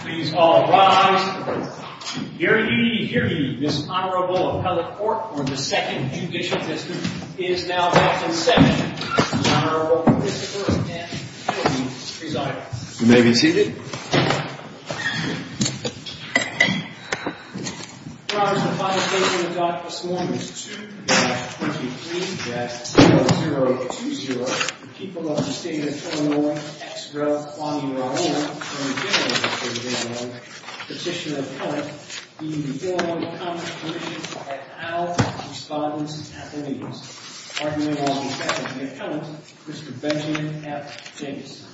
Please all rise. Hear ye, hear ye. This Honorable Appellate Court for the Second Judicial District is now back in session. Mr. Honorable Prosecutor and Attorney, please be seated. You may be seated. Your Honors, the final case in the dock this morning is 2-5-23-0020 The people of the state of Illinois, extra, on your own, from the general legislature of Illinois, petitioner and appellant, the Illinois Commerce Commission, at our respondents at the meetings. Arguing on behalf of the appellant, Mr. Benjamin F. Jamieson.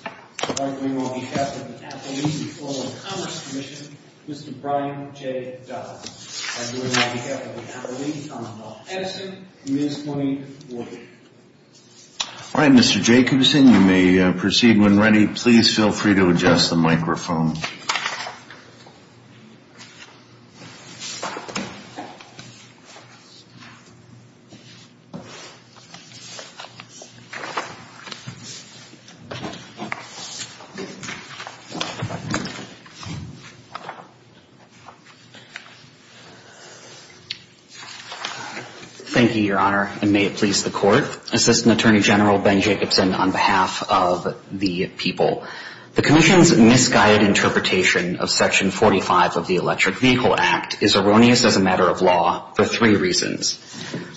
Arguing on behalf of the appellees before the Commerce Commission, Mr. Brian J. Dodd. Arguing on behalf of the appellees, Honorable Edison, Ms. Monique Warden. All right, Mr. Jacobson, you may proceed when ready. Please feel free to adjust the microphone. Thank you, Your Honor, and may it please the Court. Assistant Attorney General Ben Jacobson on behalf of the people. The Commission's misguided interpretation of Section 45 of the Electric Vehicle Act is erroneous as a matter of law for three reasons.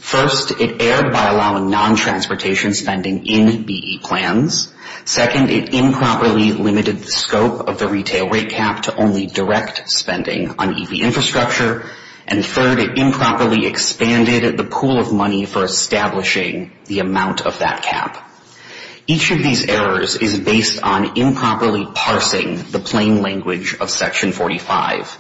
First, it erred by allowing non-transportation spending in BE plans. Second, it erred by allowing non-transportation spending in electric vehicles. Third, it improperly limited the scope of the retail rate cap to only direct spending on EV infrastructure. And third, it improperly expanded the pool of money for establishing the amount of that cap. Each of these errors is based on improperly parsing the plain language of Section 45.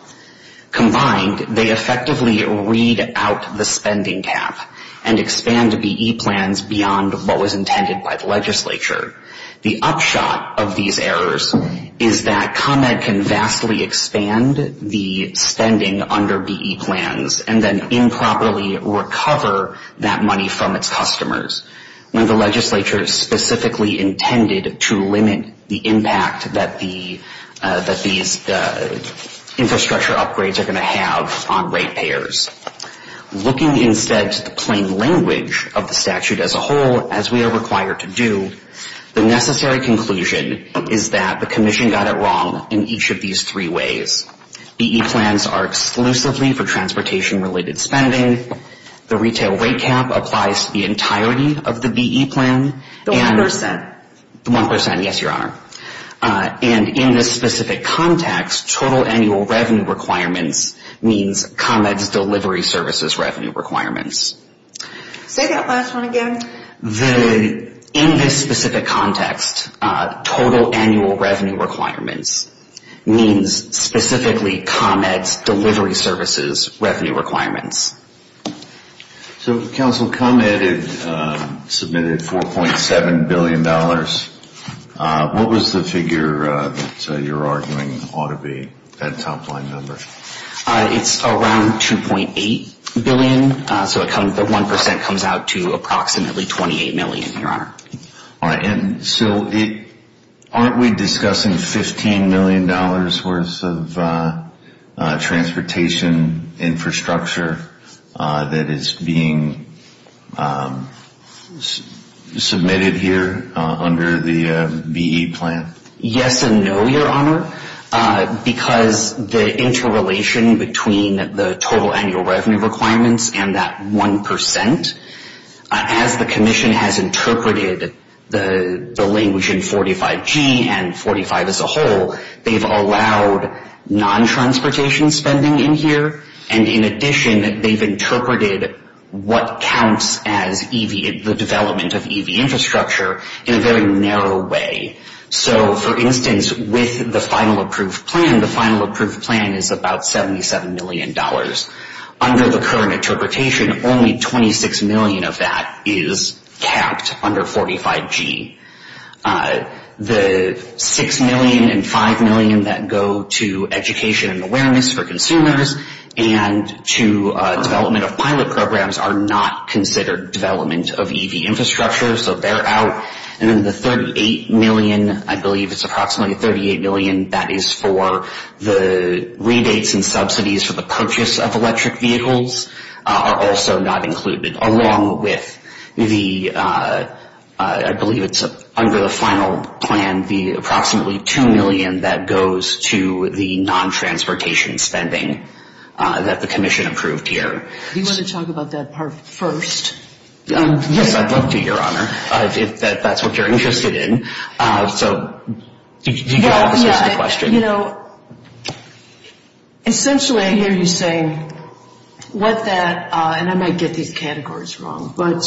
Combined, they effectively read out the spending cap and expand BE plans beyond what was intended by the legislature. The upshot of these errors is that ComEd can vastly expand the spending under BE plans and then improperly recover that money from its customers when the legislature specifically intended to limit the impact that these infrastructure upgrades are going to have on rate payers. Looking instead to the plain language of the statute as a whole, as we are required to do, the necessary conclusion is that the Commission got it wrong in each of these three ways. BE plans are exclusively for transportation-related spending. The retail rate cap applies to the entirety of the BE plan. The 1%. The 1%, yes, Your Honor. And in this specific context, total annual revenue requirements means ComEd's delivery services revenue requirements. Say that last one again. In this specific context, total annual revenue requirements means specifically ComEd's delivery services revenue requirements. So Council, ComEd submitted $4.7 billion. What was the figure that you're arguing ought to be that top-line number? It's around $2.8 billion. So the 1% comes out to approximately $28 million, Your Honor. And so aren't we discussing $15 million worth of transportation infrastructure that is being submitted here under the BE plan? Yes and no, Your Honor, because the interrelation between the total annual revenue requirements and that 1%, as the Commission has interpreted the language in 45G and 45 as a whole, they've allowed non-transportation spending in here, and in addition they've interpreted what counts as the development of EV infrastructure in a very narrow way. So, for instance, with the final approved plan, the final approved plan is about $77 million. Under the current interpretation, only $26 million of that is capped under 45G. The $6 million and $5 million that go to education and awareness for consumers and to development of pilot programs are not considered development of EV infrastructure, so they're out. And then the $38 million, I believe it's approximately $38 million, that is for the rebates and subsidies for the purchase of electric vehicles, are also not included, along with the, I believe it's under the final plan, the approximately $2 million that goes to the non-transportation spending that the Commission approved here. Do you want to talk about that part first? Yes, I'd love to, Your Honor, if that's what you're interested in. So, do you have a specific question? Yeah, you know, essentially I hear you saying what that, and I might get these categories wrong, but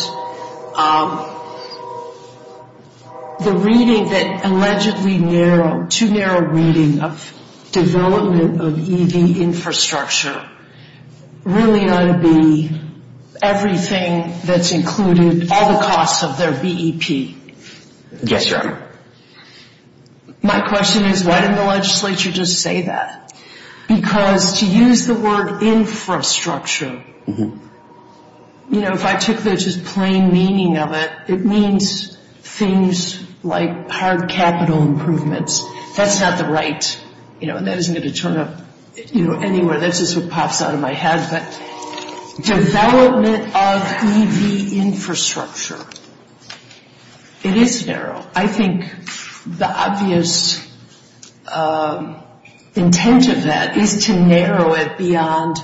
the reading that allegedly narrowed, too narrow reading of development of EV infrastructure really ought to be everything that's included, all the costs of their BEP. Yes, Your Honor. My question is why didn't the legislature just say that? Because to use the word infrastructure, you know, if I took the just plain meaning of it, it means things like hard capital improvements. That's not the right, you know, and that isn't going to turn up, you know, anywhere. That's just what pops out of my head. Development of EV infrastructure. It is narrow. I think the obvious intent of that is to narrow it beyond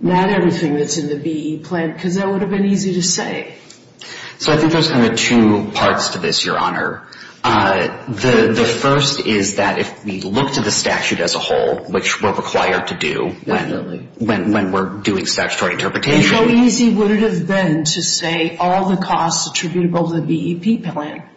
not everything that's in the BE plan because that would have been easy to say. So I think there's kind of two parts to this, Your Honor. The first is that if we look to the statute as a whole, which we're required to do when we're doing statutory interpretation. And how easy would it have been to say all the costs attributable to the BEP plan?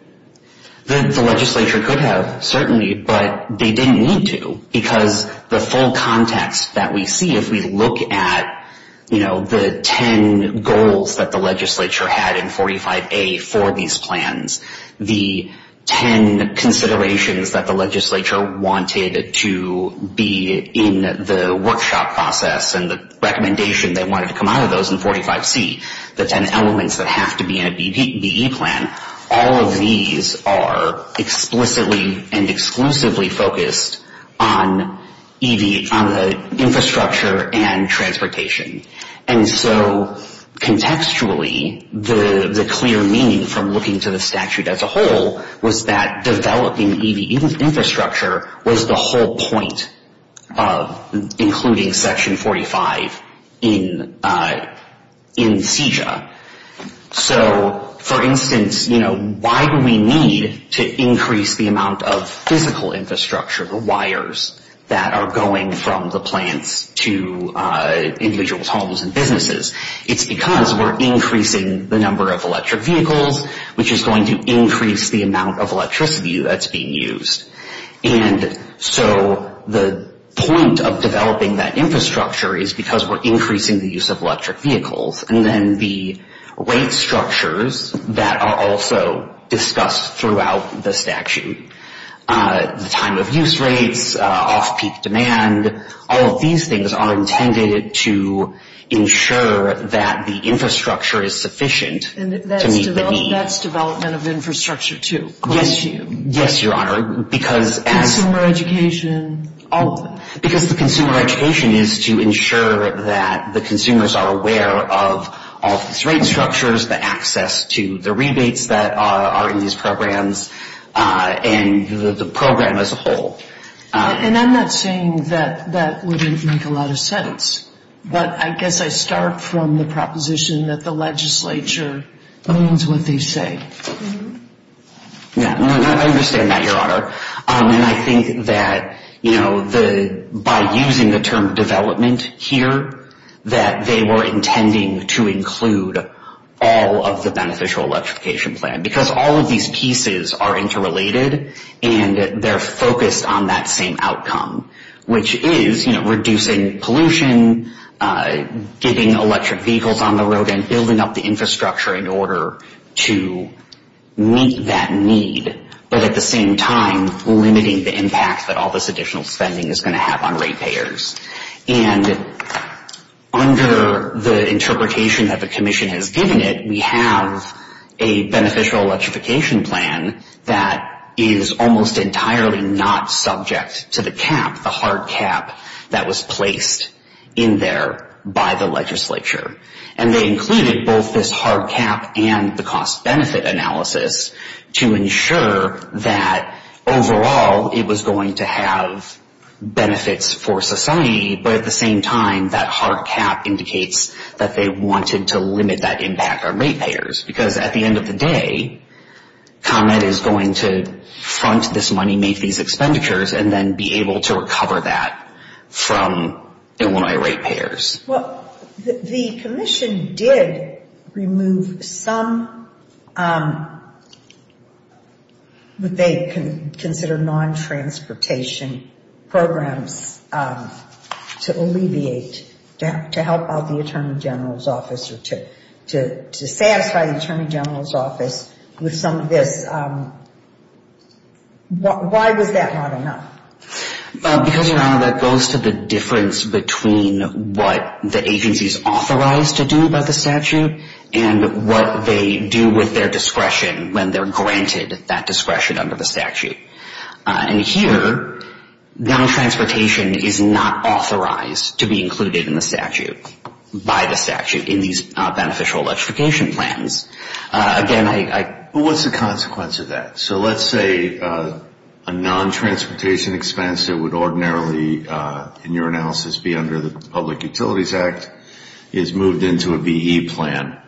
The legislature could have, certainly, but they didn't need to because the full context that we see if we look at, you know, the ten goals that the legislature had in 45A for these plans, the ten considerations that the legislature wanted to be in the workshop process and the recommendation they wanted to come out of those in 45C, the ten elements that have to be in a BE plan, all of these are explicitly and exclusively focused on EV, on the infrastructure and transportation. And so, contextually, the clear meaning from looking to the statute as a whole was that developing EV infrastructure was the whole point of including Section 45 in CJA. So, for instance, you know, why do we need to increase the amount of physical infrastructure, the wires that are going from the plants to individuals' homes and businesses? It's because we're increasing the number of electric vehicles, which is going to increase the amount of electricity that's being used. And so the point of developing that infrastructure is because we're increasing the use of electric vehicles. And then the rate structures that are also discussed throughout the statute, the time of use rates, off-peak demand, all of these things are intended to ensure that the infrastructure is sufficient to meet the need. And that's development of infrastructure, too? Yes, Your Honor. Consumer education, all of them. Because the consumer education is to ensure that the consumers are aware of all of these rate structures, the access to the rebates that are in these programs, and the program as a whole. And I'm not saying that that wouldn't make a lot of sense, but I guess I start from the proposition that the legislature means what they say. Yeah, I understand that, Your Honor. And I think that, you know, by using the term development here, that they were intending to include all of the beneficial electrification plan. Because all of these pieces are interrelated, and they're focused on that same outcome, which is, you know, reducing pollution, getting electric vehicles on the road, and building up the infrastructure in order to meet that need, but at the same time limiting the impact that all this additional spending is going to have on rate payers. And under the interpretation that the commission has given it, we have a beneficial electrification plan that is almost entirely not subject to the cap, the hard cap that was placed in there by the legislature. And they included both this hard cap and the cost-benefit analysis to ensure that overall it was going to have benefits for society, but at the same time that hard cap indicates that they wanted to limit that impact on rate payers. Because at the end of the day, Con Ed is going to front this money, make these expenditures, and then be able to recover that from Illinois rate payers. Well, the commission did remove some what they consider non-transportation programs to alleviate, to help out the Attorney General's office or to satisfy the Attorney General's office with some of this. Why was that not enough? Because, Your Honor, that goes to the difference between what the agency is authorized to do by the statute and what they do with their discretion when they're granted that discretion under the statute. And here, non-transportation is not authorized to be included in the statute, by the statute, in these beneficial electrification plans. Again, I... What's the consequence of that? So let's say a non-transportation expense that would ordinarily, in your analysis, be under the Public Utilities Act is moved into a BE plan.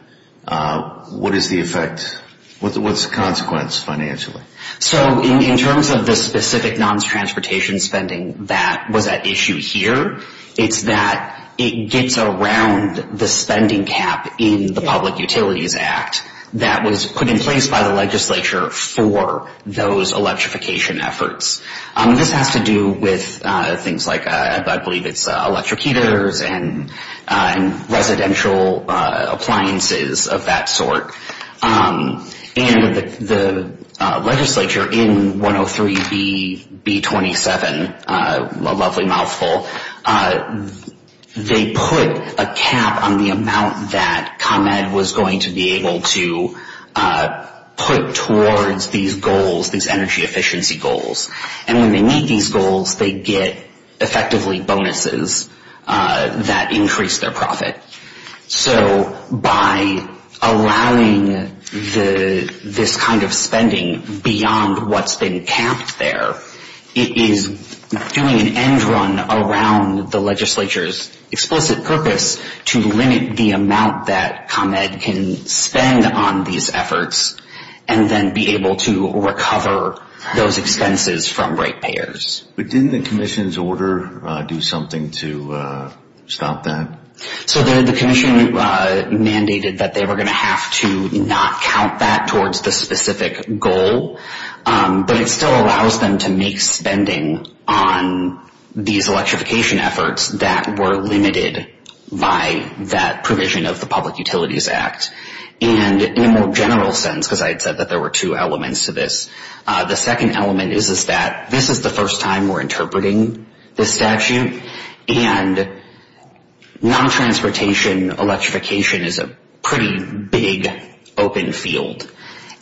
What is the effect? What's the consequence financially? So in terms of the specific non-transportation spending that was at issue here, it's that it gets around the spending cap in the Public Utilities Act that was put in place by the legislature for those electrification efforts. This has to do with things like, I believe it's electric heaters and residential appliances of that sort. And the legislature, in 103-B-27, a lovely mouthful, they put a cap on the amount that ComEd was going to be able to put towards these goals, these energy efficiency goals. And when they meet these goals, they get effectively bonuses that increase their profit. So by allowing this kind of spending beyond what's been capped there, it is doing an end run around the legislature's explicit purpose to limit the amount that ComEd can spend on these efforts and then be able to recover those expenses from ratepayers. But didn't the commission's order do something to stop that? So the commission mandated that they were going to have to not count that towards the specific goal, but it still allows them to make spending on these electrification efforts that were limited by that provision of the Public Utilities Act. And in a more general sense, because I had said that there were two elements to this, the second element is that this is the first time we're interpreting this statute, and non-transportation electrification is a pretty big, open field.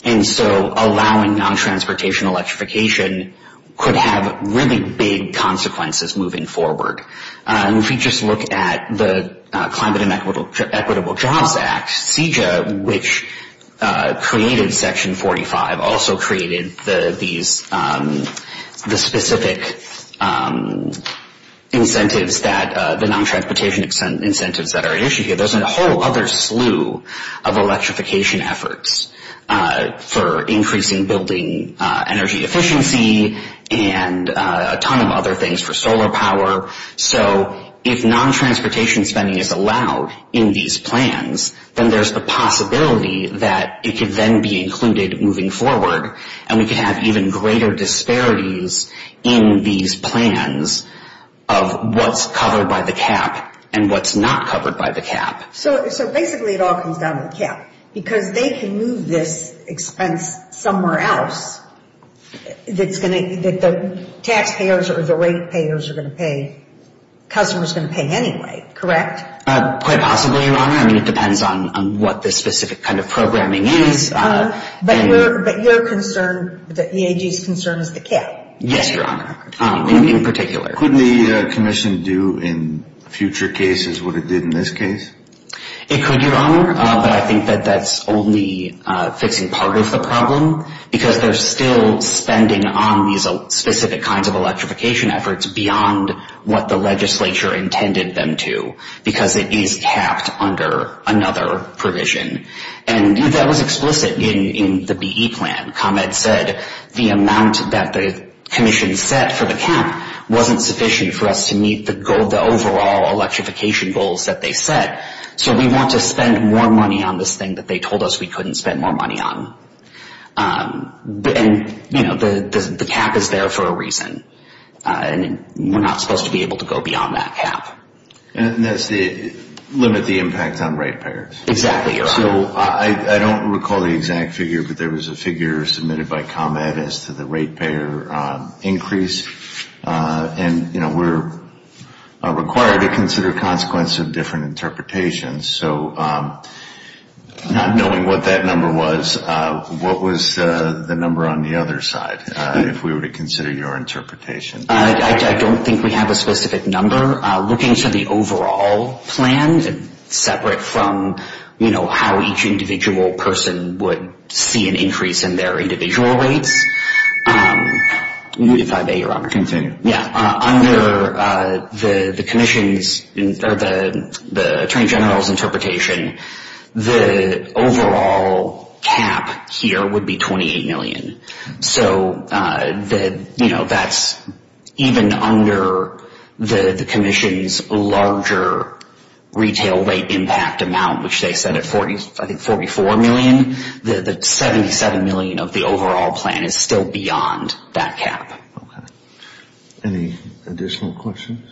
And so allowing non-transportation electrification could have really big consequences moving forward. If you just look at the Climate and Equitable Jobs Act, CJA, which created Section 45, also created the specific incentives that, the non-transportation incentives that are at issue here. There's a whole other slew of electrification efforts for increasing building energy efficiency and a ton of other things for solar power. So if non-transportation spending is allowed in these plans, then there's a possibility that it could then be included moving forward, and we could have even greater disparities in these plans of what's covered by the cap and what's not covered by the cap. So basically it all comes down to the cap, because they can move this expense somewhere else that the taxpayers or the rate payers are going to pay, customers are going to pay anyway, correct? Quite possibly, Your Honor. I mean, it depends on what the specific kind of programming is. Yes, but your concern, the EAG's concern is the cap. Yes, Your Honor, in particular. Couldn't the commission do in future cases what it did in this case? It could, Your Honor, but I think that that's only fixing part of the problem, because they're still spending on these specific kinds of electrification efforts beyond what the legislature intended them to, because it is capped under another provision. And that was explicit in the BE plan. ComEd said the amount that the commission set for the cap wasn't sufficient for us to meet the goal, the overall electrification goals that they set, so we want to spend more money on this thing that they told us we couldn't spend more money on. And, you know, the cap is there for a reason, and we're not supposed to be able to go beyond that cap. And that's to limit the impact on rate payers. Exactly, Your Honor. So I don't recall the exact figure, but there was a figure submitted by ComEd as to the rate payer increase. And, you know, we're required to consider consequences of different interpretations. So not knowing what that number was, what was the number on the other side, if we were to consider your interpretation? I don't think we have a specific number. Looking to the overall plan, separate from, you know, how each individual person would see an increase in their individual rates, if I may, Your Honor. Continue. Yeah. Under the commission's or the Attorney General's interpretation, the overall cap here would be $28 million. So, you know, that's even under the commission's larger retail rate impact amount, which they set at, I think, $44 million. The $77 million of the overall plan is still beyond that cap. Okay. Any additional questions?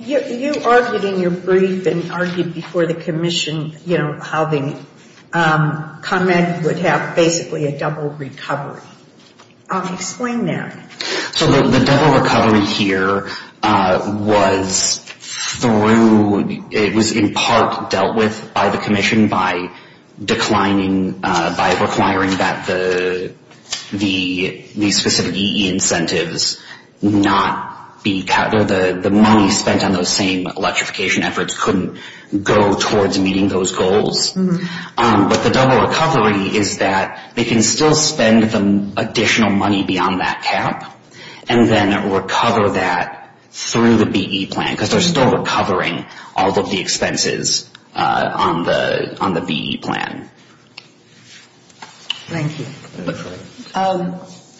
You argued in your brief and argued before the commission, you know, how ComEd would have basically a double recovery. Explain that. So the double recovery here was through, it was in part dealt with by the commission by declining, by requiring that the specific EE incentives not be, the money spent on those same electrification efforts couldn't go towards meeting those goals. But the double recovery is that they can still spend additional money beyond that cap and then recover that through the BE plan because they're still recovering all of the expenses on the BE plan. Thank you.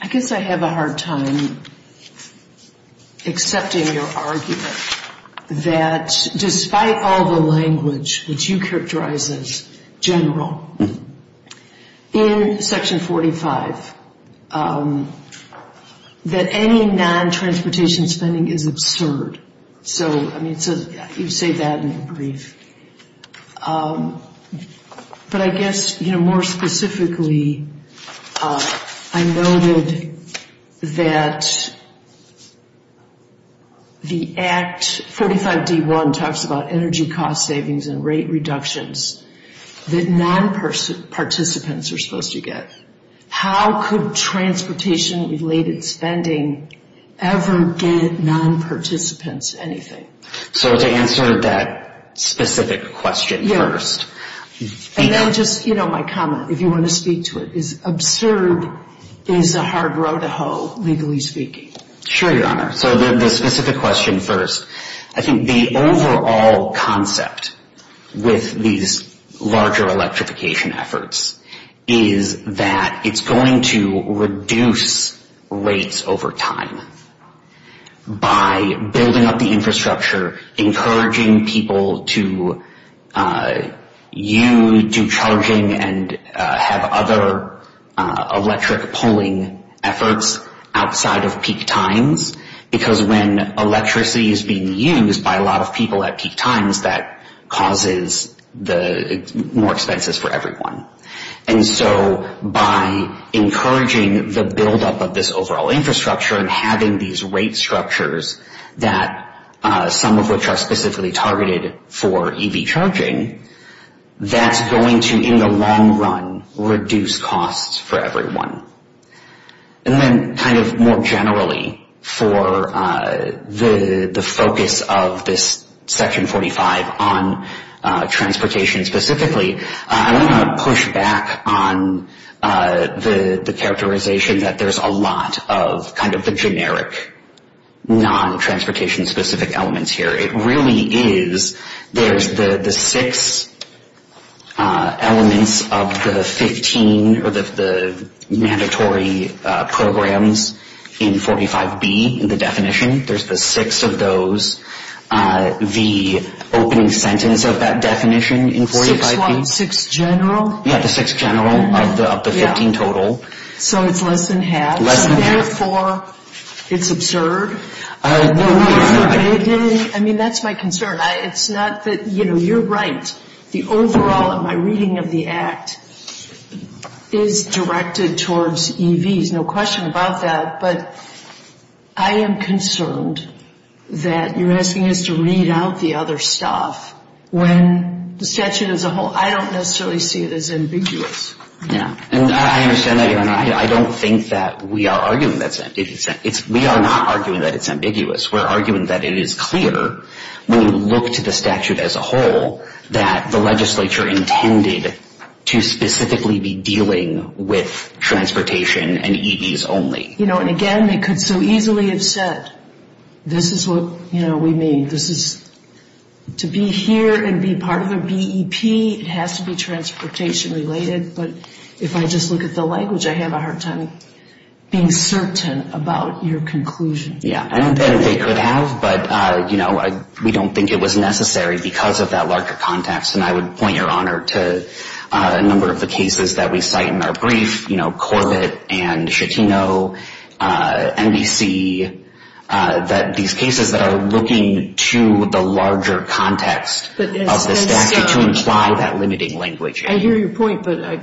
I guess I have a hard time accepting your argument that despite all the language, which you characterize as general, in Section 45, that any non-transportation spending is absurd. So, I mean, you say that in your brief. But I guess, you know, more specifically, I noted that the Act 45-D-1 talks about energy cost savings and rate reductions that non-participants are supposed to get. How could transportation-related spending ever get non-participants anything? So to answer that specific question first. And then just, you know, my comment, if you want to speak to it, is absurd is a hard row to hoe, legally speaking. Sure, Your Honor. So the specific question first. I think the overall concept with these larger electrification efforts is that it's going to reduce rates over time by building up the infrastructure, encouraging people to use, do charging, and have other electric pulling efforts outside of peak times. Because when electricity is being used by a lot of people at peak times, that causes more expenses for everyone. And so by encouraging the buildup of this overall infrastructure and having these rate structures that, some of which are specifically targeted for EV charging, that's going to, in the long run, reduce costs for everyone. And then kind of more generally, for the focus of this Section 45 on transportation specifically, I want to push back on the characterization that there's a lot of kind of the generic, non-transportation-specific elements here. It really is, there's the six elements of the 15, or the mandatory programs in 45B, the definition. There's the six of those. The opening sentence of that definition in 45B. Six what? Six general? Yeah, the six general of the 15 total. So it's less than half? Less than half. Therefore, it's absurd? No, Your Honor. I mean, that's my concern. It's not that, you know, you're right. The overall, in my reading of the Act, is directed towards EVs, no question about that. But I am concerned that you're asking us to read out the other stuff when the statute as a whole, I don't necessarily see it as ambiguous. Yeah, and I understand that, Your Honor. I don't think that we are arguing that it's ambiguous. We are not arguing that it's ambiguous. We're arguing that it is clear when you look to the statute as a whole that the legislature intended to specifically be dealing with transportation and EVs only. You know, and again, they could so easily have said, this is what, you know, we mean. This is to be here and be part of the BEP, it has to be transportation related. But if I just look at the language, I have a hard time being certain about your conclusion. Yeah, I don't think they could have. But, you know, we don't think it was necessary because of that larger context. And I would point, Your Honor, to a number of the cases that we cite in our brief, you know, Corbett and Schettino, NBC, that these cases that are looking to the larger context of the statute to imply that limiting language. I hear your point, but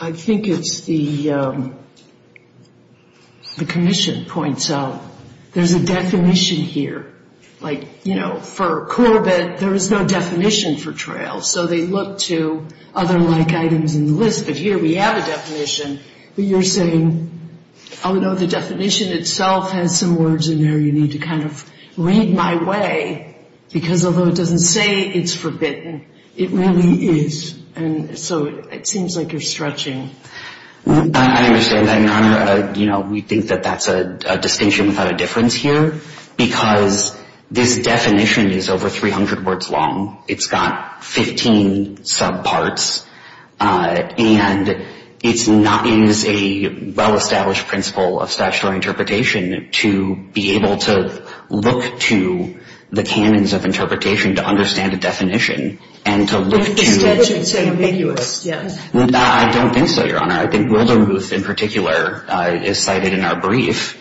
I think it's the commission points out there's a definition here. Like, you know, for Corbett, there is no definition for trails. So they look to other like items in the list. But here we have a definition. But you're saying, oh, no, the definition itself has some words in there you need to kind of read my way. Because although it doesn't say it's forbidden, it really is. And so it seems like you're stretching. I understand that, Your Honor. But, you know, we think that that's a distinction without a difference here. Because this definition is over 300 words long. It's got 15 subparts. And it's not as a well-established principle of statutory interpretation to be able to look to the canons of interpretation to understand a definition. And to look to. The statute is ambiguous, yes. I don't think so, Your Honor. I think Wildermuth in particular is cited in our brief.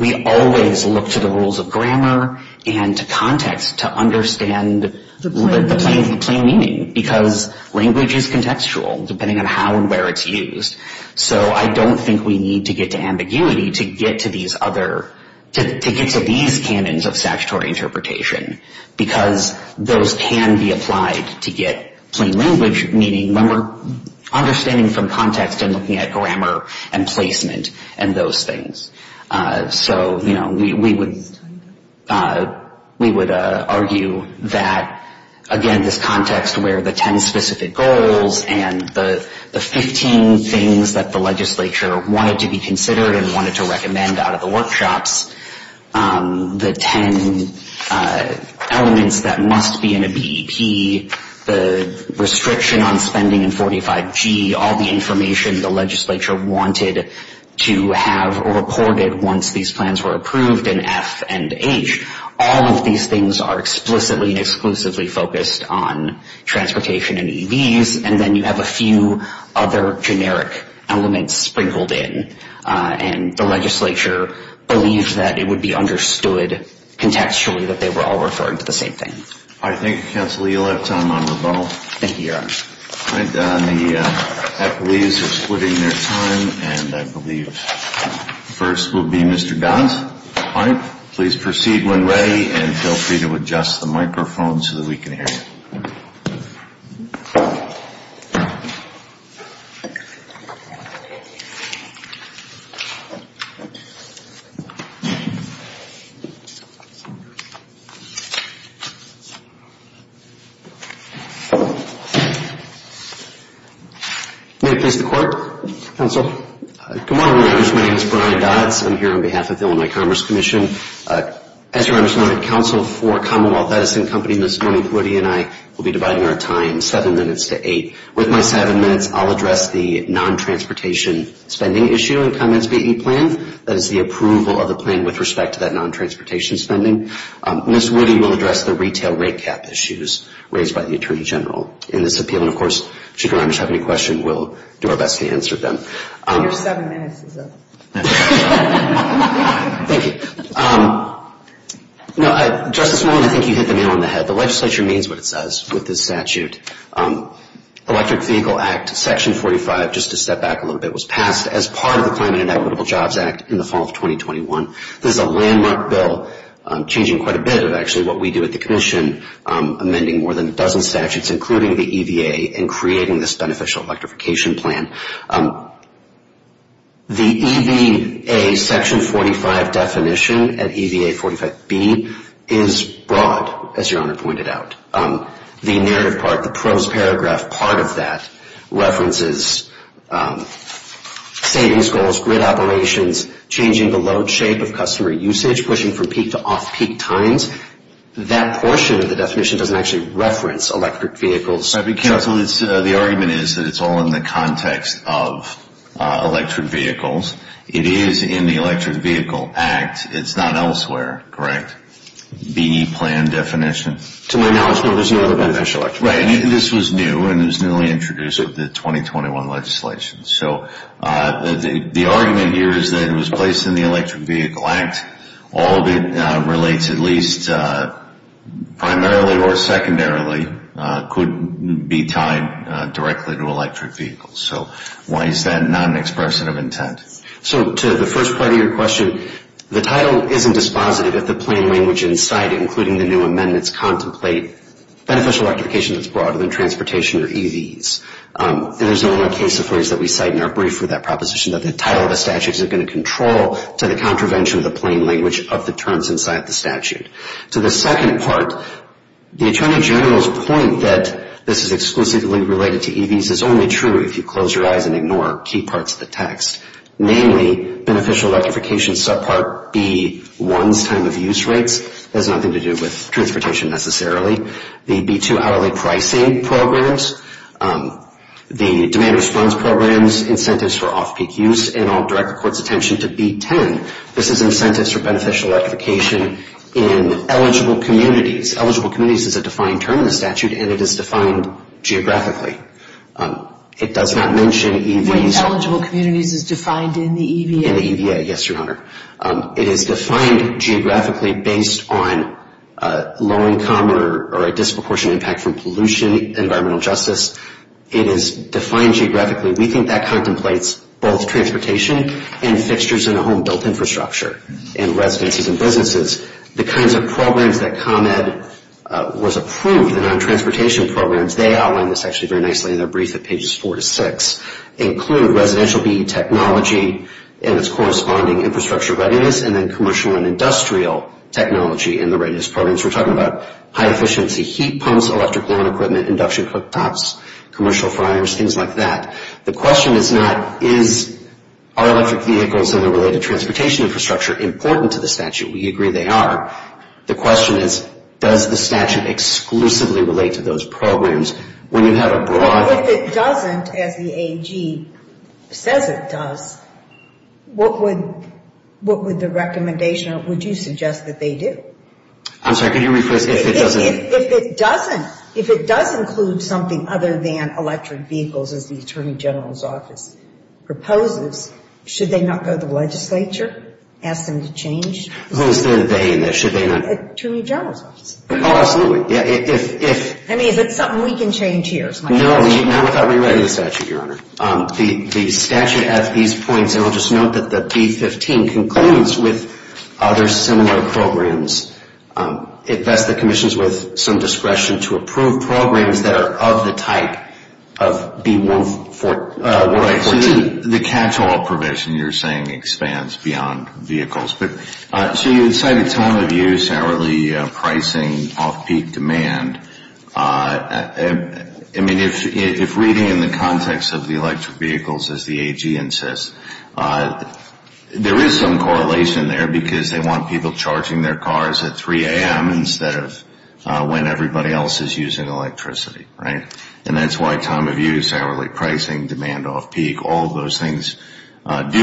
We always look to the rules of grammar and to context to understand the plain meaning. Because language is contextual, depending on how and where it's used. So I don't think we need to get to ambiguity to get to these other, to get to these canons of statutory interpretation. Because those can be applied to get plain language. Meaning when we're understanding from context and looking at grammar and placement and those things. So, you know, we would argue that, again, this context where the 10 specific goals and the 15 things that the legislature wanted to be considered and wanted to recommend out of the workshops. The 10 elements that must be in a BEP. The restriction on spending in 45G. All the information the legislature wanted to have recorded once these plans were approved in F and H. All of these things are explicitly and exclusively focused on transportation and EVs. And then you have a few other generic elements sprinkled in. And the legislature believes that it would be understood contextually that they were all referring to the same thing. All right, thank you, Counsel Lee. You'll have time on rebuttal. Thank you, Your Honor. All right, the appellees are splitting their time. And I believe first will be Mr. Gons. All right. Please proceed when ready and feel free to adjust the microphone so that we can hear you. May it please the Court? Counsel? Good morning, Judge. My name is Brian Dodds. I'm here on behalf of the Illinois Commerce Commission. As Your Honor, I'm just going to counsel for Commonwealth Edison Company. Ms. Norma Woody and I will be dividing our time seven minutes to eight. With my seven minutes, I'll address the non-transportation spending issue in the Commons BE plan. That is the approval of the plan with respect to that non-transportation spending. Ms. Woody will address the retail rate cap issues raised by the Attorney General in this appeal. And, of course, should Your Honor have any questions, we'll do our best to answer them. Your seven minutes is up. Thank you. Justice Norman, I think you hit the nail on the head. The legislature means what it says with this statute. Electric Vehicle Act Section 45, just to step back a little bit, was passed as part of the Climate and Equitable Jobs Act in the fall of 2021. This is a landmark bill, changing quite a bit of actually what we do at the Commission, amending more than a dozen statutes, including the EVA, and creating this beneficial electrification plan. The EVA Section 45 definition at EVA 45B is broad, as Your Honor pointed out. The narrative part, the prose paragraph part of that references savings goals, grid operations, changing the load shape of customer usage, pushing from peak to off-peak times. That portion of the definition doesn't actually reference electric vehicles. The argument is that it's all in the context of electric vehicles. It is in the Electric Vehicle Act. It's not elsewhere, correct, the plan definition? To my knowledge, there was no other beneficial electrification. Right, and this was new, and it was newly introduced with the 2021 legislation. So the argument here is that it was placed in the Electric Vehicle Act. All of it relates at least primarily or secondarily could be tied directly to electric vehicles. So why is that not an expression of intent? So to the first part of your question, the title isn't dispositive if the plain language in sight, including the new amendments, contemplate beneficial electrification that's broader than transportation or EVs. There's only one case that we cite in our brief with that proposition, that the title of the statute isn't going to control to the contravention of the plain language of the terms inside the statute. To the second part, the Attorney General's point that this is exclusively related to EVs is only true if you close your eyes and ignore key parts of the text, namely beneficial electrification subpart B1's time of use rates. It has nothing to do with transportation necessarily. The B2 hourly pricing programs, the demand response programs, incentives for off-peak use, and I'll direct the Court's attention to B10. This is incentives for beneficial electrification in eligible communities. Eligible communities is a defined term in the statute, and it is defined geographically. It does not mention EVs. Wait, eligible communities is defined in the EVA? In the EVA, yes, Your Honor. It is defined geographically based on low-income or a disproportionate impact from pollution, environmental justice. It is defined geographically. We think that contemplates both transportation and fixtures in a home-built infrastructure, in residences and businesses. The kinds of programs that ComEd was approved, the non-transportation programs, they outline this actually very nicely in their brief at pages four to six, include residential BE technology and its corresponding infrastructure readiness and then commercial and industrial technology in the readiness programs. We're talking about high-efficiency heat pumps, electric lawn equipment, induction cooktops, commercial fryers, things like that. The question is not, is our electric vehicles and their related transportation infrastructure important to the statute? We agree they are. The question is, does the statute exclusively relate to those programs? Well, if it doesn't, as the AG says it does, what would the recommendation, would you suggest that they do? I'm sorry, can you rephrase, if it doesn't? If it doesn't, if it does include something other than electric vehicles, as the Attorney General's office proposes, should they not go to the legislature, ask them to change? Who's their they in this? Attorney General's office. Oh, absolutely. I mean, is it something we can change here? No, not without rewriting the statute, Your Honor. The statute at these points, and I'll just note that the B-15 concludes with other similar programs. It vests the commissions with some discretion to approve programs that are of the type of B-14. Right, so the catch-all provision you're saying expands beyond vehicles. So you cited time of use, hourly pricing, off-peak demand. I mean, if reading in the context of the electric vehicles, as the AG insists, there is some correlation there because they want people charging their cars at 3 a.m. instead of when everybody else is using electricity, right? And that's why time of use, hourly pricing, demand off-peak, all those things do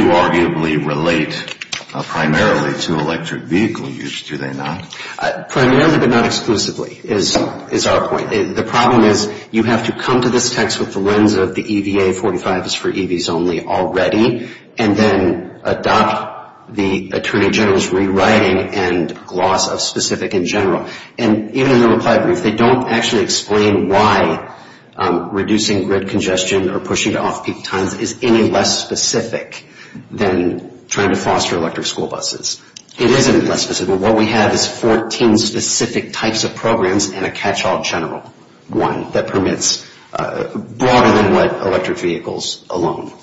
arguably relate primarily to electric vehicle use, do they not? Primarily but not exclusively is our point. The problem is you have to come to this text with the lens of the EVA 45 is for EVs only already and then adopt the Attorney General's rewriting and gloss of specific in general. And even in the reply brief, they don't actually explain why reducing grid congestion or pushing to off-peak times is any less specific than trying to foster electric school buses. It isn't less specific. What we have is 14 specific types of programs and a catch-all general one that permits broader than what electric vehicles alone.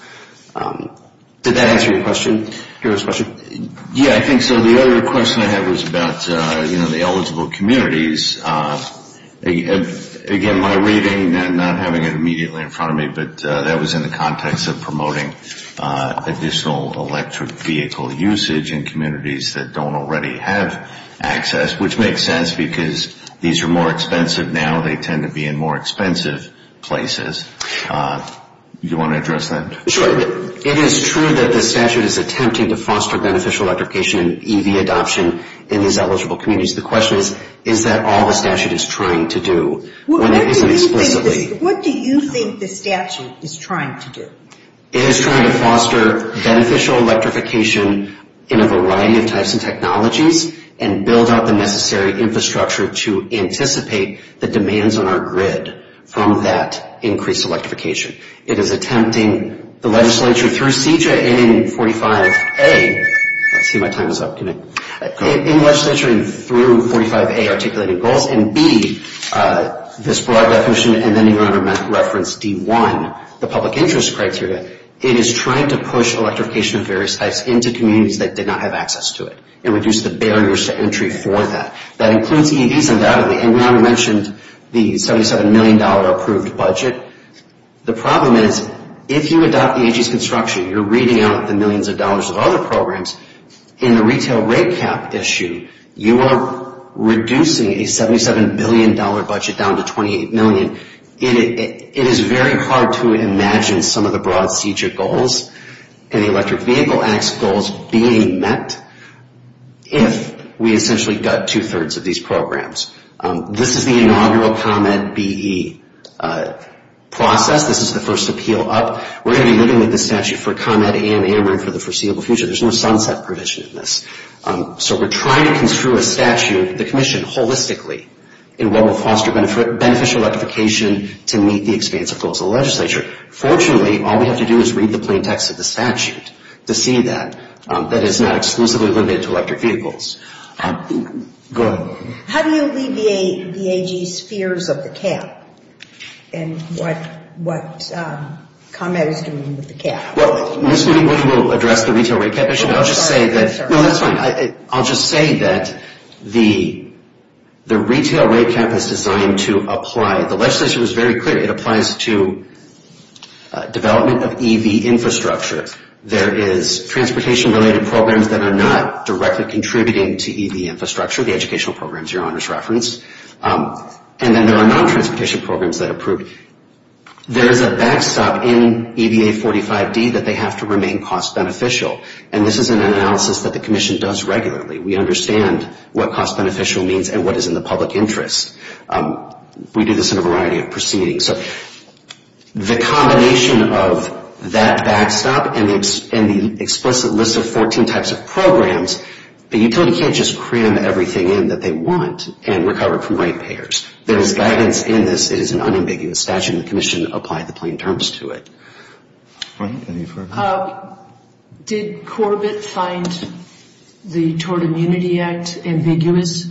Did that answer your question? Yeah, I think so. The other question I had was about the eligible communities. Again, my reading, not having it immediately in front of me, but that was in the context of promoting additional electric vehicle usage in communities that don't already have access, which makes sense because these are more expensive now. They tend to be in more expensive places. Do you want to address that? Sure. It is true that the statute is attempting to foster beneficial electrification and EV adoption in these eligible communities. The question is, is that all the statute is trying to do? What do you think the statute is trying to do? It is trying to foster beneficial electrification in a variety of types of technologies and build out the necessary infrastructure to anticipate the demands on our grid from that increased electrification. It is attempting the legislature through CJA and 45A. Let's see if my time is up. In the legislature through 45A, articulating goals, and B, this broad definition, and then even under reference D1, the public interest criteria, it is trying to push electrification of various types into communities that did not have access to it and reduce the barriers to entry for that. That includes EVs undoubtedly, and we already mentioned the $77 million approved budget. The problem is, if you adopt the AG's construction, you're reading out the millions of dollars of other programs. In the retail rate cap issue, you are reducing a $77 billion budget down to $28 million. It is very hard to imagine some of the broad CJA goals and the Electric Vehicle Act's goals being met if we essentially gut two-thirds of these programs. This is the inaugural comment BE process. This is the first appeal up. We're going to be living with this statute for Comet and AMR for the foreseeable future. There's no sunset provision in this. So we're trying to construe a statute, the commission holistically, in what will foster beneficial electrification to meet the expansive goals of the legislature. Fortunately, all we have to do is read the plain text of the statute to see that. That is not exclusively limited to electric vehicles. Go ahead. How do you alleviate the AG's fears of the cap and what Comet is doing with the cap? We will address the retail rate cap issue. I'll just say that the retail rate cap is designed to apply. The legislature was very clear. It applies to development of EV infrastructure. There is transportation-related programs that are not directly contributing to EV infrastructure, the educational programs your honors referenced, and then there are non-transportation programs that approve. There is a backstop in EVA 45D that they have to remain cost-beneficial, and this is an analysis that the commission does regularly. We understand what cost-beneficial means and what is in the public interest. We do this in a variety of proceedings. The combination of that backstop and the explicit list of 14 types of programs, the utility can't just cram everything in that they want and recover it from rate payers. There is guidance in this. It is an unambiguous statute, and the commission applied the plain terms to it. Did Corbett find the Tort Immunity Act ambiguous?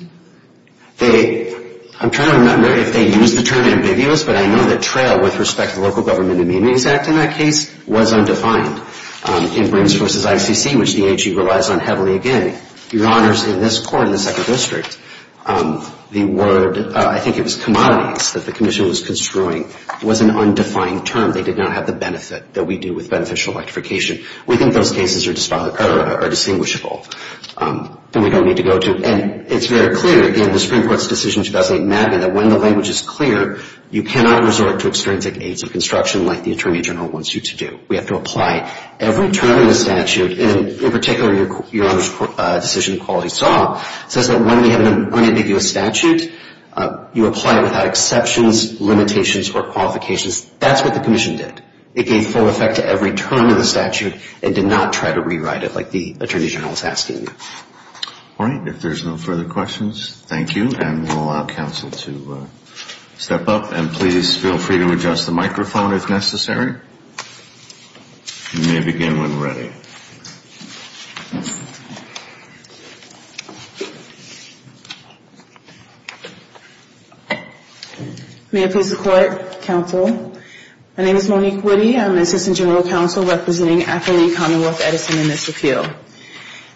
I'm trying to remember if they used the term ambiguous, but I know that TRAIL, with respect to the Local Government Immunities Act in that case, was undefined. In Brains v. ICC, which the NHE relies on heavily again, your honors, in this court in the second district, the word I think it was commodities that the commission was construing was an undefined term. They did not have the benefit that we do with beneficial electrification. We think those cases are distinguishable, and we don't need to go to it. And it's very clear in the Supreme Court's decision in 2008, MAGA, that when the language is clear, you cannot resort to extrinsic aids of construction like the Attorney General wants you to do. We have to apply every term in the statute. And in particular, your honors' decision in Quality Saw says that when we have an unambiguous statute, you apply it without exceptions, limitations, or qualifications. That's what the commission did. It gave full effect to every term in the statute and did not try to rewrite it like the Attorney General is asking you. All right. If there's no further questions, thank you, and we'll allow counsel to step up. And please feel free to adjust the microphone if necessary. You may begin when ready. May it please the Court, Counsel. My name is Monique Woody. I'm the Assistant General Counsel representing Athlete Commonwealth Edison in this appeal.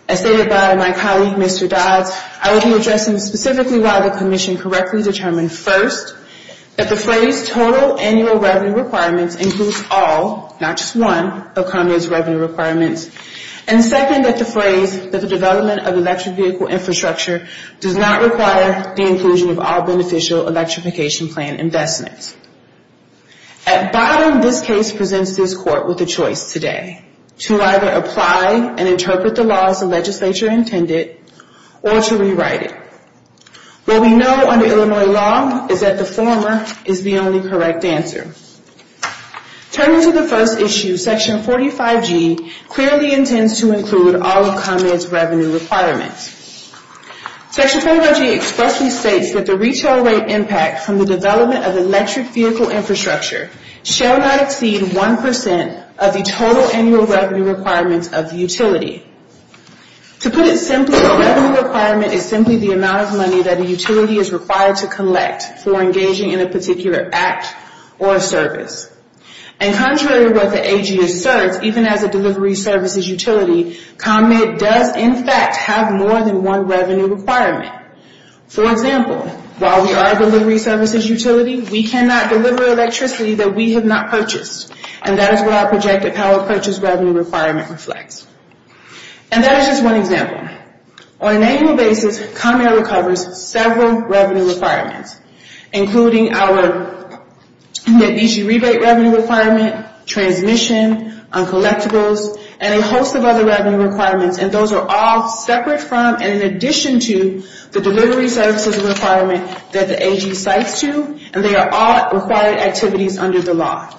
As stated by my colleague, Mr. Dodds, I will be addressing specifically why the commission correctly determined, first, that the phrase total annual revenue requirements includes all, not just one, of Congress' revenue requirements, and second, that the phrase that the development of electric vehicle infrastructure does not require the inclusion of all beneficial electrification plan investments. At bottom, this case presents this Court with a choice today, to either apply and interpret the law as the legislature intended or to rewrite it. What we know under Illinois law is that the former is the only correct answer. Turning to the first issue, Section 45G clearly intends to include all of Congress' revenue requirements. Section 45G expressly states that the retail rate impact from the development of electric vehicle infrastructure shall not exceed 1% of the total annual revenue requirements of the utility. To put it simply, a revenue requirement is simply the amount of money that a utility is required to collect for engaging in a particular act or service. And contrary to what the AG asserts, even as a delivery services utility, ComEd does, in fact, have more than one revenue requirement. For example, while we are a delivery services utility, we cannot deliver electricity that we have not purchased. And that is where our projected power purchase revenue requirement reflects. And that is just one example. On an annual basis, ComEd recovers several revenue requirements, including our easy rebate revenue requirement, transmission, collectibles, and a host of other revenue requirements, and those are all separate from and in addition to the delivery services requirement that the AG cites to, and they are all required activities under the law.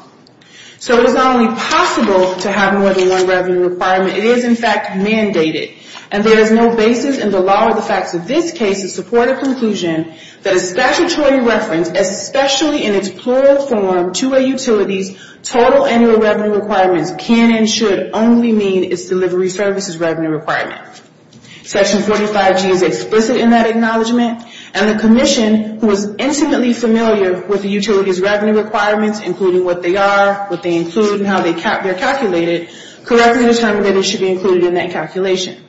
So it is not only possible to have more than one revenue requirement, it is, in fact, mandated. And there is no basis in the law or the facts of this case to support a conclusion that a statutory reference, especially in its plural form, to a utility's total annual revenue requirements can and should only mean its delivery services revenue requirement. Section 45G is explicit in that acknowledgement, and the commission, who is intimately familiar with the utility's revenue requirements, including what they are, what they include, and how they are calculated, correctly determined that it should be included in that calculation.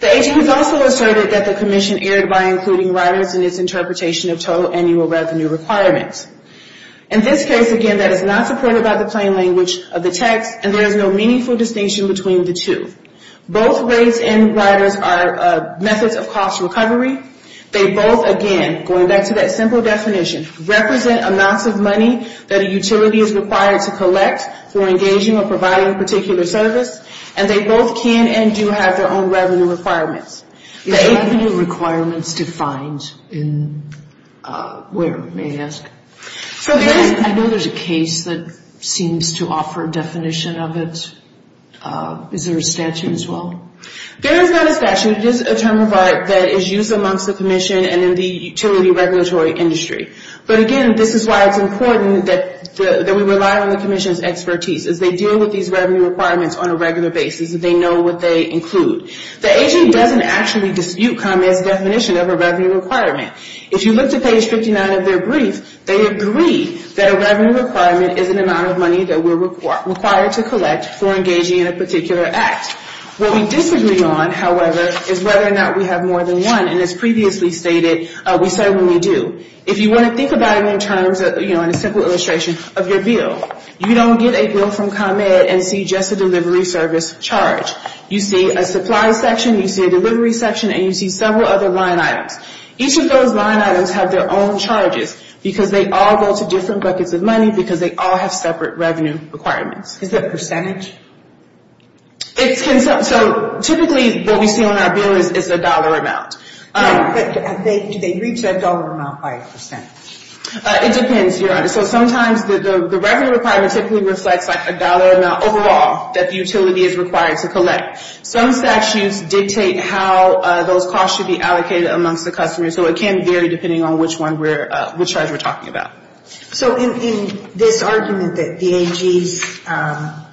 The AG has also asserted that the commission erred by including riders in its interpretation of total annual revenue requirements. In this case, again, that is not supported by the plain language of the text, and there is no meaningful distinction between the two. Both rates and riders are methods of cost recovery. They both, again, going back to that simple definition, represent amounts of money that a utility is required to collect for engaging or providing a particular service, and they both can and do have their own revenue requirements. Is revenue requirements defined in where, may I ask? I know there is a case that seems to offer a definition of it. Is there a statute as well? There is not a statute. It is a term of art that is used amongst the commission and in the utility regulatory industry. But, again, this is why it's important that we rely on the commission's expertise, as they deal with these revenue requirements on a regular basis, and they know what they include. The AG doesn't actually dispute ComEd's definition of a revenue requirement. If you look to page 59 of their brief, they agree that a revenue requirement is an amount of money that we're required to collect for engaging in a particular act. What we disagree on, however, is whether or not we have more than one, and as previously stated, we certainly do. If you want to think about it in terms of, you know, in a simple illustration of your bill, you don't get a bill from ComEd and see just a delivery service charge. You see a supply section, you see a delivery section, and you see several other line items. Each of those line items have their own charges because they all go to different buckets of money because they all have separate revenue requirements. Is that percentage? So typically what we see on our bill is a dollar amount. Right. But do they reach that dollar amount by a percent? It depends, Your Honor. So sometimes the revenue requirement typically reflects like a dollar amount overall that the utility is required to collect. Some statutes dictate how those costs should be allocated amongst the customer, so it can vary depending on which one we're – which charge we're talking about. So in this argument that the AGs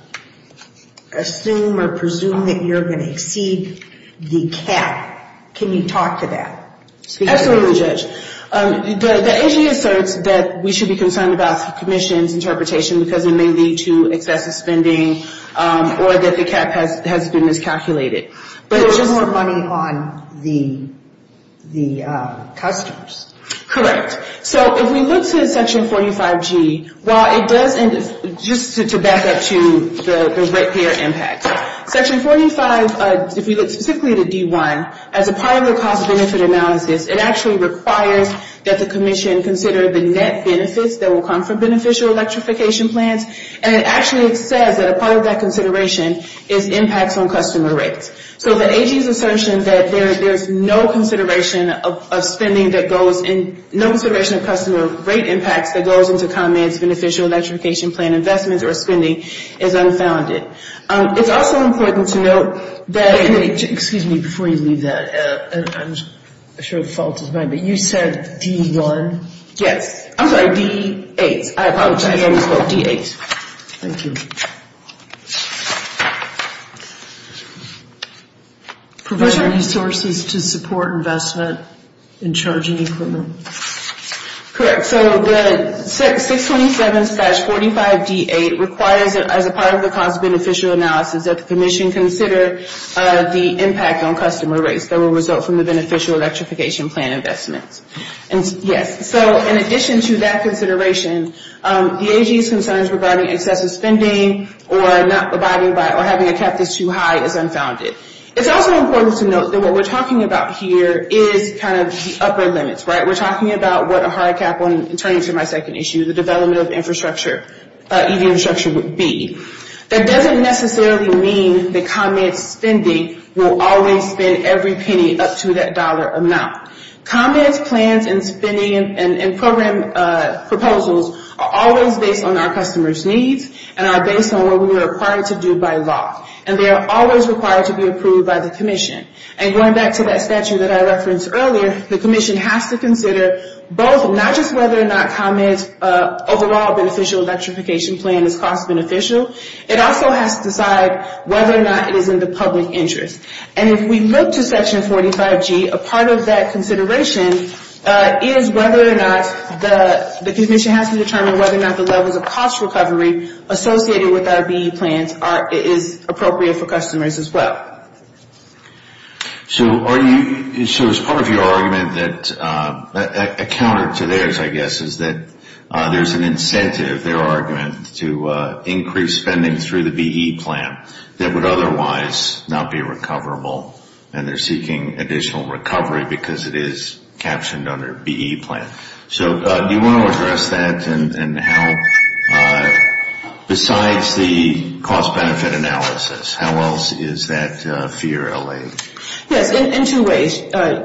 assume or presume that you're going to exceed the cap, can you talk to that? Absolutely, Judge. The AG asserts that we should be concerned about the commission's interpretation because it may lead to excessive spending or that the cap has been miscalculated. But there's more money on the customers. Correct. So if we look to Section 45G, while it does – just to back up to the ratepayer impact, Section 45, if we look specifically to D1, as a part of the cost-benefit analysis, it actually requires that the commission consider the net benefits that will come from beneficial electrification plans, and it actually says that a part of that consideration is impacts on customer rates. So the AG's assertion that there's no consideration of spending that goes in – no consideration of customer rate impacts that goes into comments, beneficial electrification plan investments or spending is unfounded. It's also important to note that – Excuse me, before you leave that, I'm sure the fault is mine, but you said D1? Yes. I'm sorry, D8. I apologize, I misspoke. D8. Thank you. Provide resources to support investment in charging equipment. Correct. So the 627-45D8 requires that, as a part of the cost-beneficial analysis, that the commission consider the impact on customer rates that will result from the beneficial electrification plan investments. Yes. So in addition to that consideration, the AG's concerns regarding excessive spending or not abiding by – or having a cap that's too high is unfounded. It's also important to note that what we're talking about here is kind of the upper limits, right? We're talking about what a hard cap, turning to my second issue, the development of infrastructure, EV infrastructure would be. That doesn't necessarily mean that comments spending will always spend every penny up to that dollar amount. Comments, plans, and spending and program proposals are always based on our customers' needs and are based on what we are required to do by law. And they are always required to be approved by the commission. And going back to that statute that I referenced earlier, the commission has to consider both, not just whether or not comments overall beneficial electrification plan is cost-beneficial, it also has to decide whether or not it is in the public interest. And if we look to Section 45G, a part of that consideration is whether or not the commission has to determine whether or not the levels of cost recovery associated with our BE plans is appropriate for customers as well. So are you – so is part of your argument that – a counter to theirs, I guess, is that there's an incentive, their argument, to increase spending through the BE plan that would otherwise not be recoverable and they're seeking additional recovery because it is captioned under BE plan. So do you want to address that and how – besides the cost-benefit analysis, how else is that fear allayed? Yes, in two ways,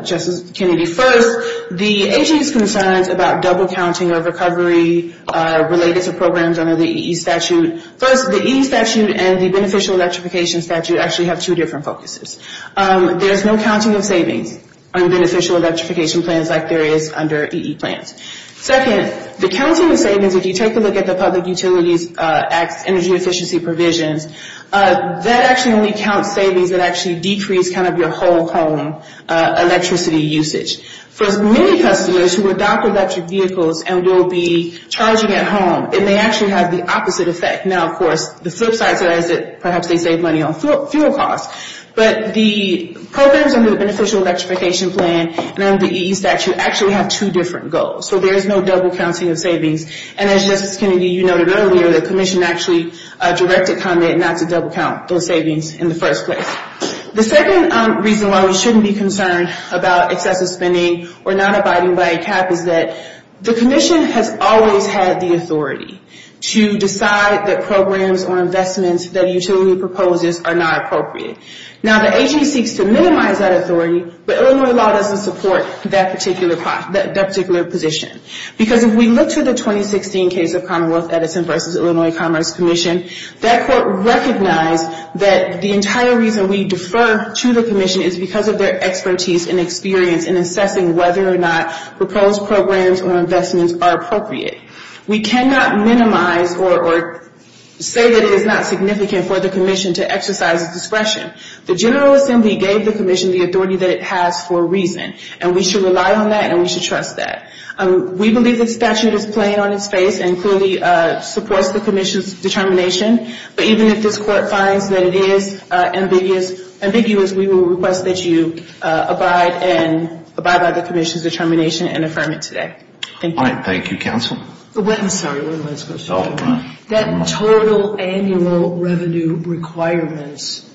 Justice Kennedy. First, the agency's concerns about double-counting of recovery related to programs under the EE statute. First, the EE statute and the beneficial electrification statute actually have two different focuses. There's no counting of savings on beneficial electrification plans like there is under EE plans. Second, the counting of savings, if you take a look at the public utilities energy efficiency provisions, that actually only counts savings that actually decrease kind of your whole home electricity usage. For many customers who adopt electric vehicles and will be charging at home, it may actually have the opposite effect. Now, of course, the flip side to that is that perhaps they save money on fuel costs. But the programs under the beneficial electrification plan and under the EE statute actually have two different goals. So there is no double-counting of savings. And as Justice Kennedy, you noted earlier, the commission actually directed Condit not to double-count those savings in the first place. The second reason why we shouldn't be concerned about excessive spending or not abiding by a cap is that the commission has always had the authority to decide that programs or investments that a utility proposes are not appropriate. Now, the agency seeks to minimize that authority, but Illinois law doesn't support that particular position. Because if we look to the 2016 case of Commonwealth Edison v. Illinois Commerce Commission, that court recognized that the entire reason we defer to the commission is because of their expertise and experience in assessing whether or not proposed programs or investments are appropriate. We cannot minimize or say that it is not significant for the commission to exercise its discretion. The General Assembly gave the commission the authority that it has for a reason. And we should rely on that and we should trust that. We believe the statute is plain on its face and clearly supports the commission's determination. But even if this court finds that it is ambiguous, we will request that you abide and abide by the commission's determination and affirm it today. Thank you. All right. Thank you, counsel. Sorry, one last question. Oh, go on. That total annual revenue requirements,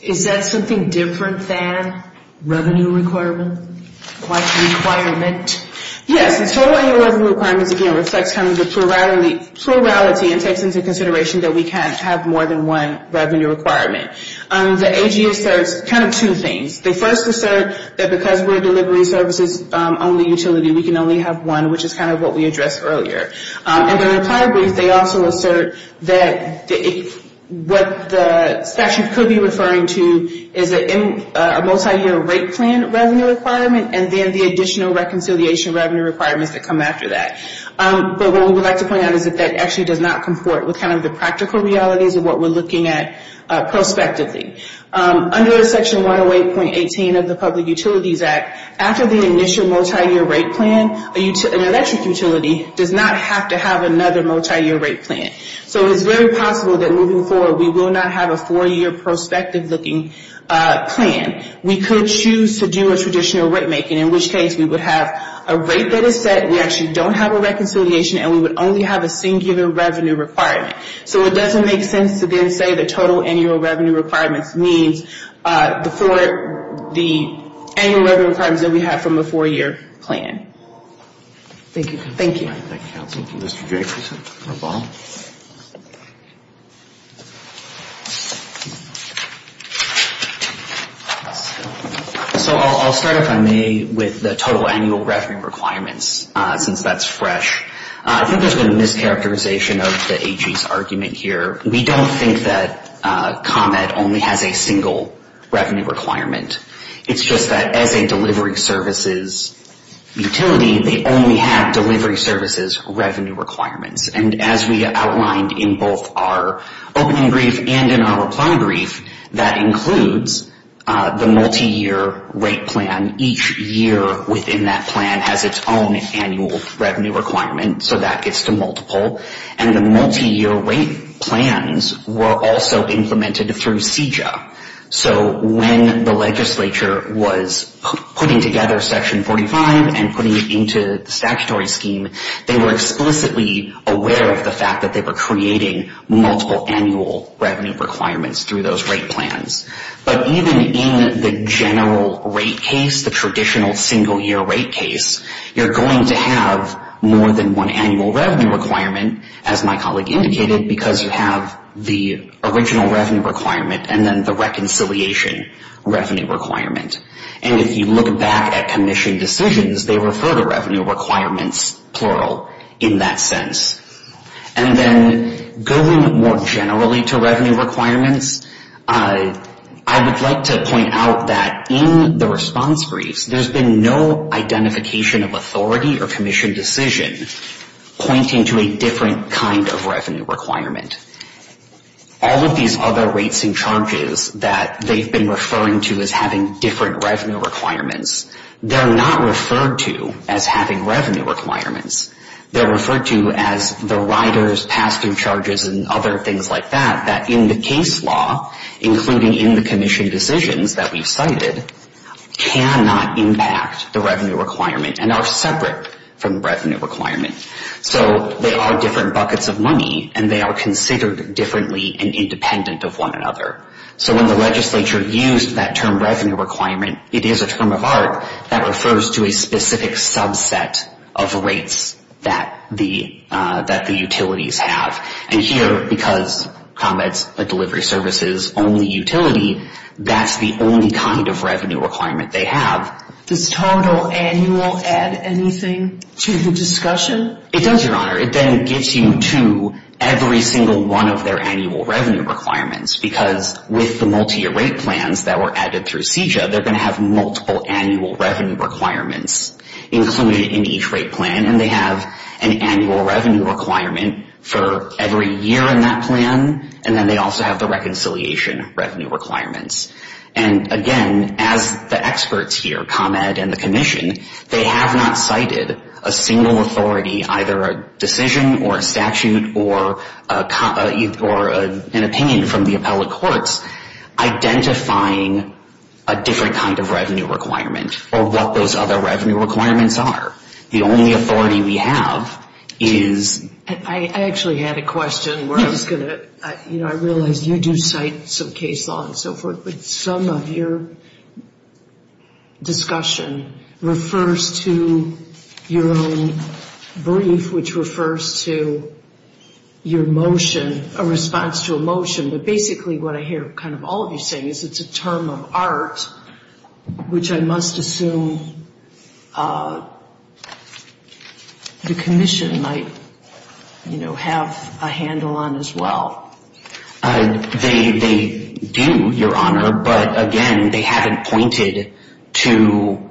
is that something different than revenue requirement? Like requirement? Yes. The total annual revenue requirements, again, reflects kind of the plurality and takes into consideration that we can't have more than one revenue requirement. The AG asserts kind of two things. They first assert that because we're a delivery services only utility, we can only have one, which is kind of what we addressed earlier. And then in a prior brief, they also assert that what the statute could be referring to is a multi-year rate plan and then the additional reconciliation revenue requirements that come after that. But what we would like to point out is that that actually does not comport with kind of the practical realities of what we're looking at prospectively. Under Section 108.18 of the Public Utilities Act, after the initial multi-year rate plan, an electric utility does not have to have another multi-year rate plan. So it's very possible that moving forward, we will not have a four-year prospective looking plan. We could choose to do a traditional rate making, in which case we would have a rate that is set, we actually don't have a reconciliation, and we would only have a singular revenue requirement. So it doesn't make sense to then say the total annual revenue requirements means the four, the annual revenue requirements that we have from a four-year plan. Thank you. Thank you. All right. Thank you, counsel. Mr. Jacobson or Baum. So I'll start if I may with the total annual revenue requirements, since that's fresh. I think there's been a mischaracterization of the AG's argument here. We don't think that Comet only has a single revenue requirement. It's just that as a delivery services utility, they only have delivery services revenue requirements. And as we outlined in both our opening brief and in our reply brief, that includes the multi-year rate plan. Each year within that plan has its own annual revenue requirement. So that gets to multiple. And the multi-year rate plans were also implemented through CJA. So when the legislature was putting together Section 45 and putting it into the statutory scheme, they were explicitly aware of the fact that they were creating multiple annual revenue requirements through those rate plans. But even in the general rate case, the traditional single-year rate case, you're going to have more than one annual revenue requirement, as my colleague indicated, because you have the original revenue requirement and then the reconciliation revenue requirement. And if you look back at commission decisions, they refer to revenue requirements, plural, in that sense. And then going more generally to revenue requirements, I would like to point out that in the response briefs, there's been no identification of authority or commission decision pointing to a different kind of revenue requirement. All of these other rates and charges that they've been referring to as having different revenue requirements, they're not referred to as having revenue requirements. They're referred to as the riders, pass-through charges, and other things like that, that in the case law, including in the commission decisions that we've cited, cannot impact the revenue requirement and are separate from the revenue requirement. So they are different buckets of money, and they are considered differently and independent of one another. So when the legislature used that term revenue requirement, it is a term of art that refers to a specific subset of rates that the utilities have. And here, because ComEd's a delivery services-only utility, that's the only kind of revenue requirement they have. Does total annual add anything to the discussion? It does, Your Honor. It then gets you to every single one of their annual revenue requirements, because with the multi-year rate plans that were added through CJA, they're going to have multiple annual revenue requirements included in each rate plan, and they have an annual revenue requirement for every year in that plan, and then they also have the reconciliation revenue requirements. And again, as the experts here, ComEd and the commission, they have not cited a single authority, either a decision or a statute or an opinion from the appellate courts, identifying a different kind of revenue requirement or what those other revenue requirements are. The only authority we have is... I actually had a question where I was going to... You know, I realize you do cite some case law and so forth, but some of your discussion refers to your own brief, which refers to your motion, a response to a motion. But basically what I hear kind of all of you saying is it's a term of art, which I must assume the commission might, you know, have a handle on as well. They do, Your Honor, but again, they haven't pointed to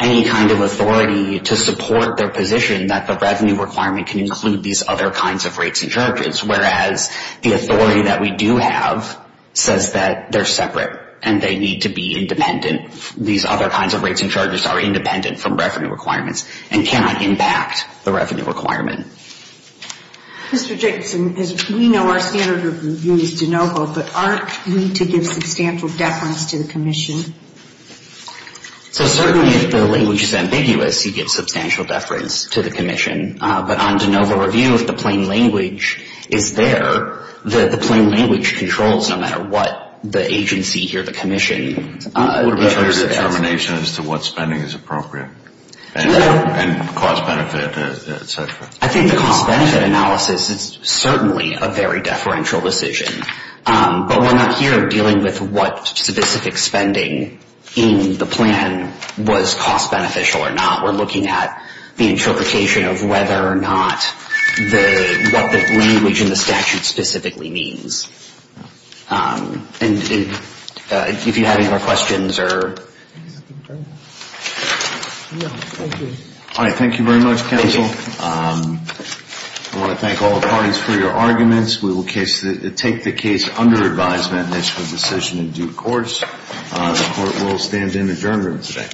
any kind of authority to support their position that the revenue requirement can include these other kinds of rates and charges, whereas the authority that we do have says that they're separate and they need to be independent. These other kinds of rates and charges are independent from revenue requirements and cannot impact the revenue requirement. Mr. Jacobson, as we know, our standard of review is de novo, but aren't we to give substantial deference to the commission? So certainly if the language is ambiguous, you give substantial deference to the commission. But on de novo review, if the plain language is there, the plain language controls no matter what the agency here, the commission. Would it be a determination as to what spending is appropriate and cost-benefit, et cetera? I think the cost-benefit analysis is certainly a very deferential decision, but we're not here dealing with what specific spending in the plan was cost-beneficial or not. We're looking at the interpretation of whether or not what the language in the statute specifically means. And if you have any more questions. Thank you very much, counsel. I want to thank all the parties for your arguments. We will take the case under advisement and make a decision in due course. The court will stand in adjournment today. All rise.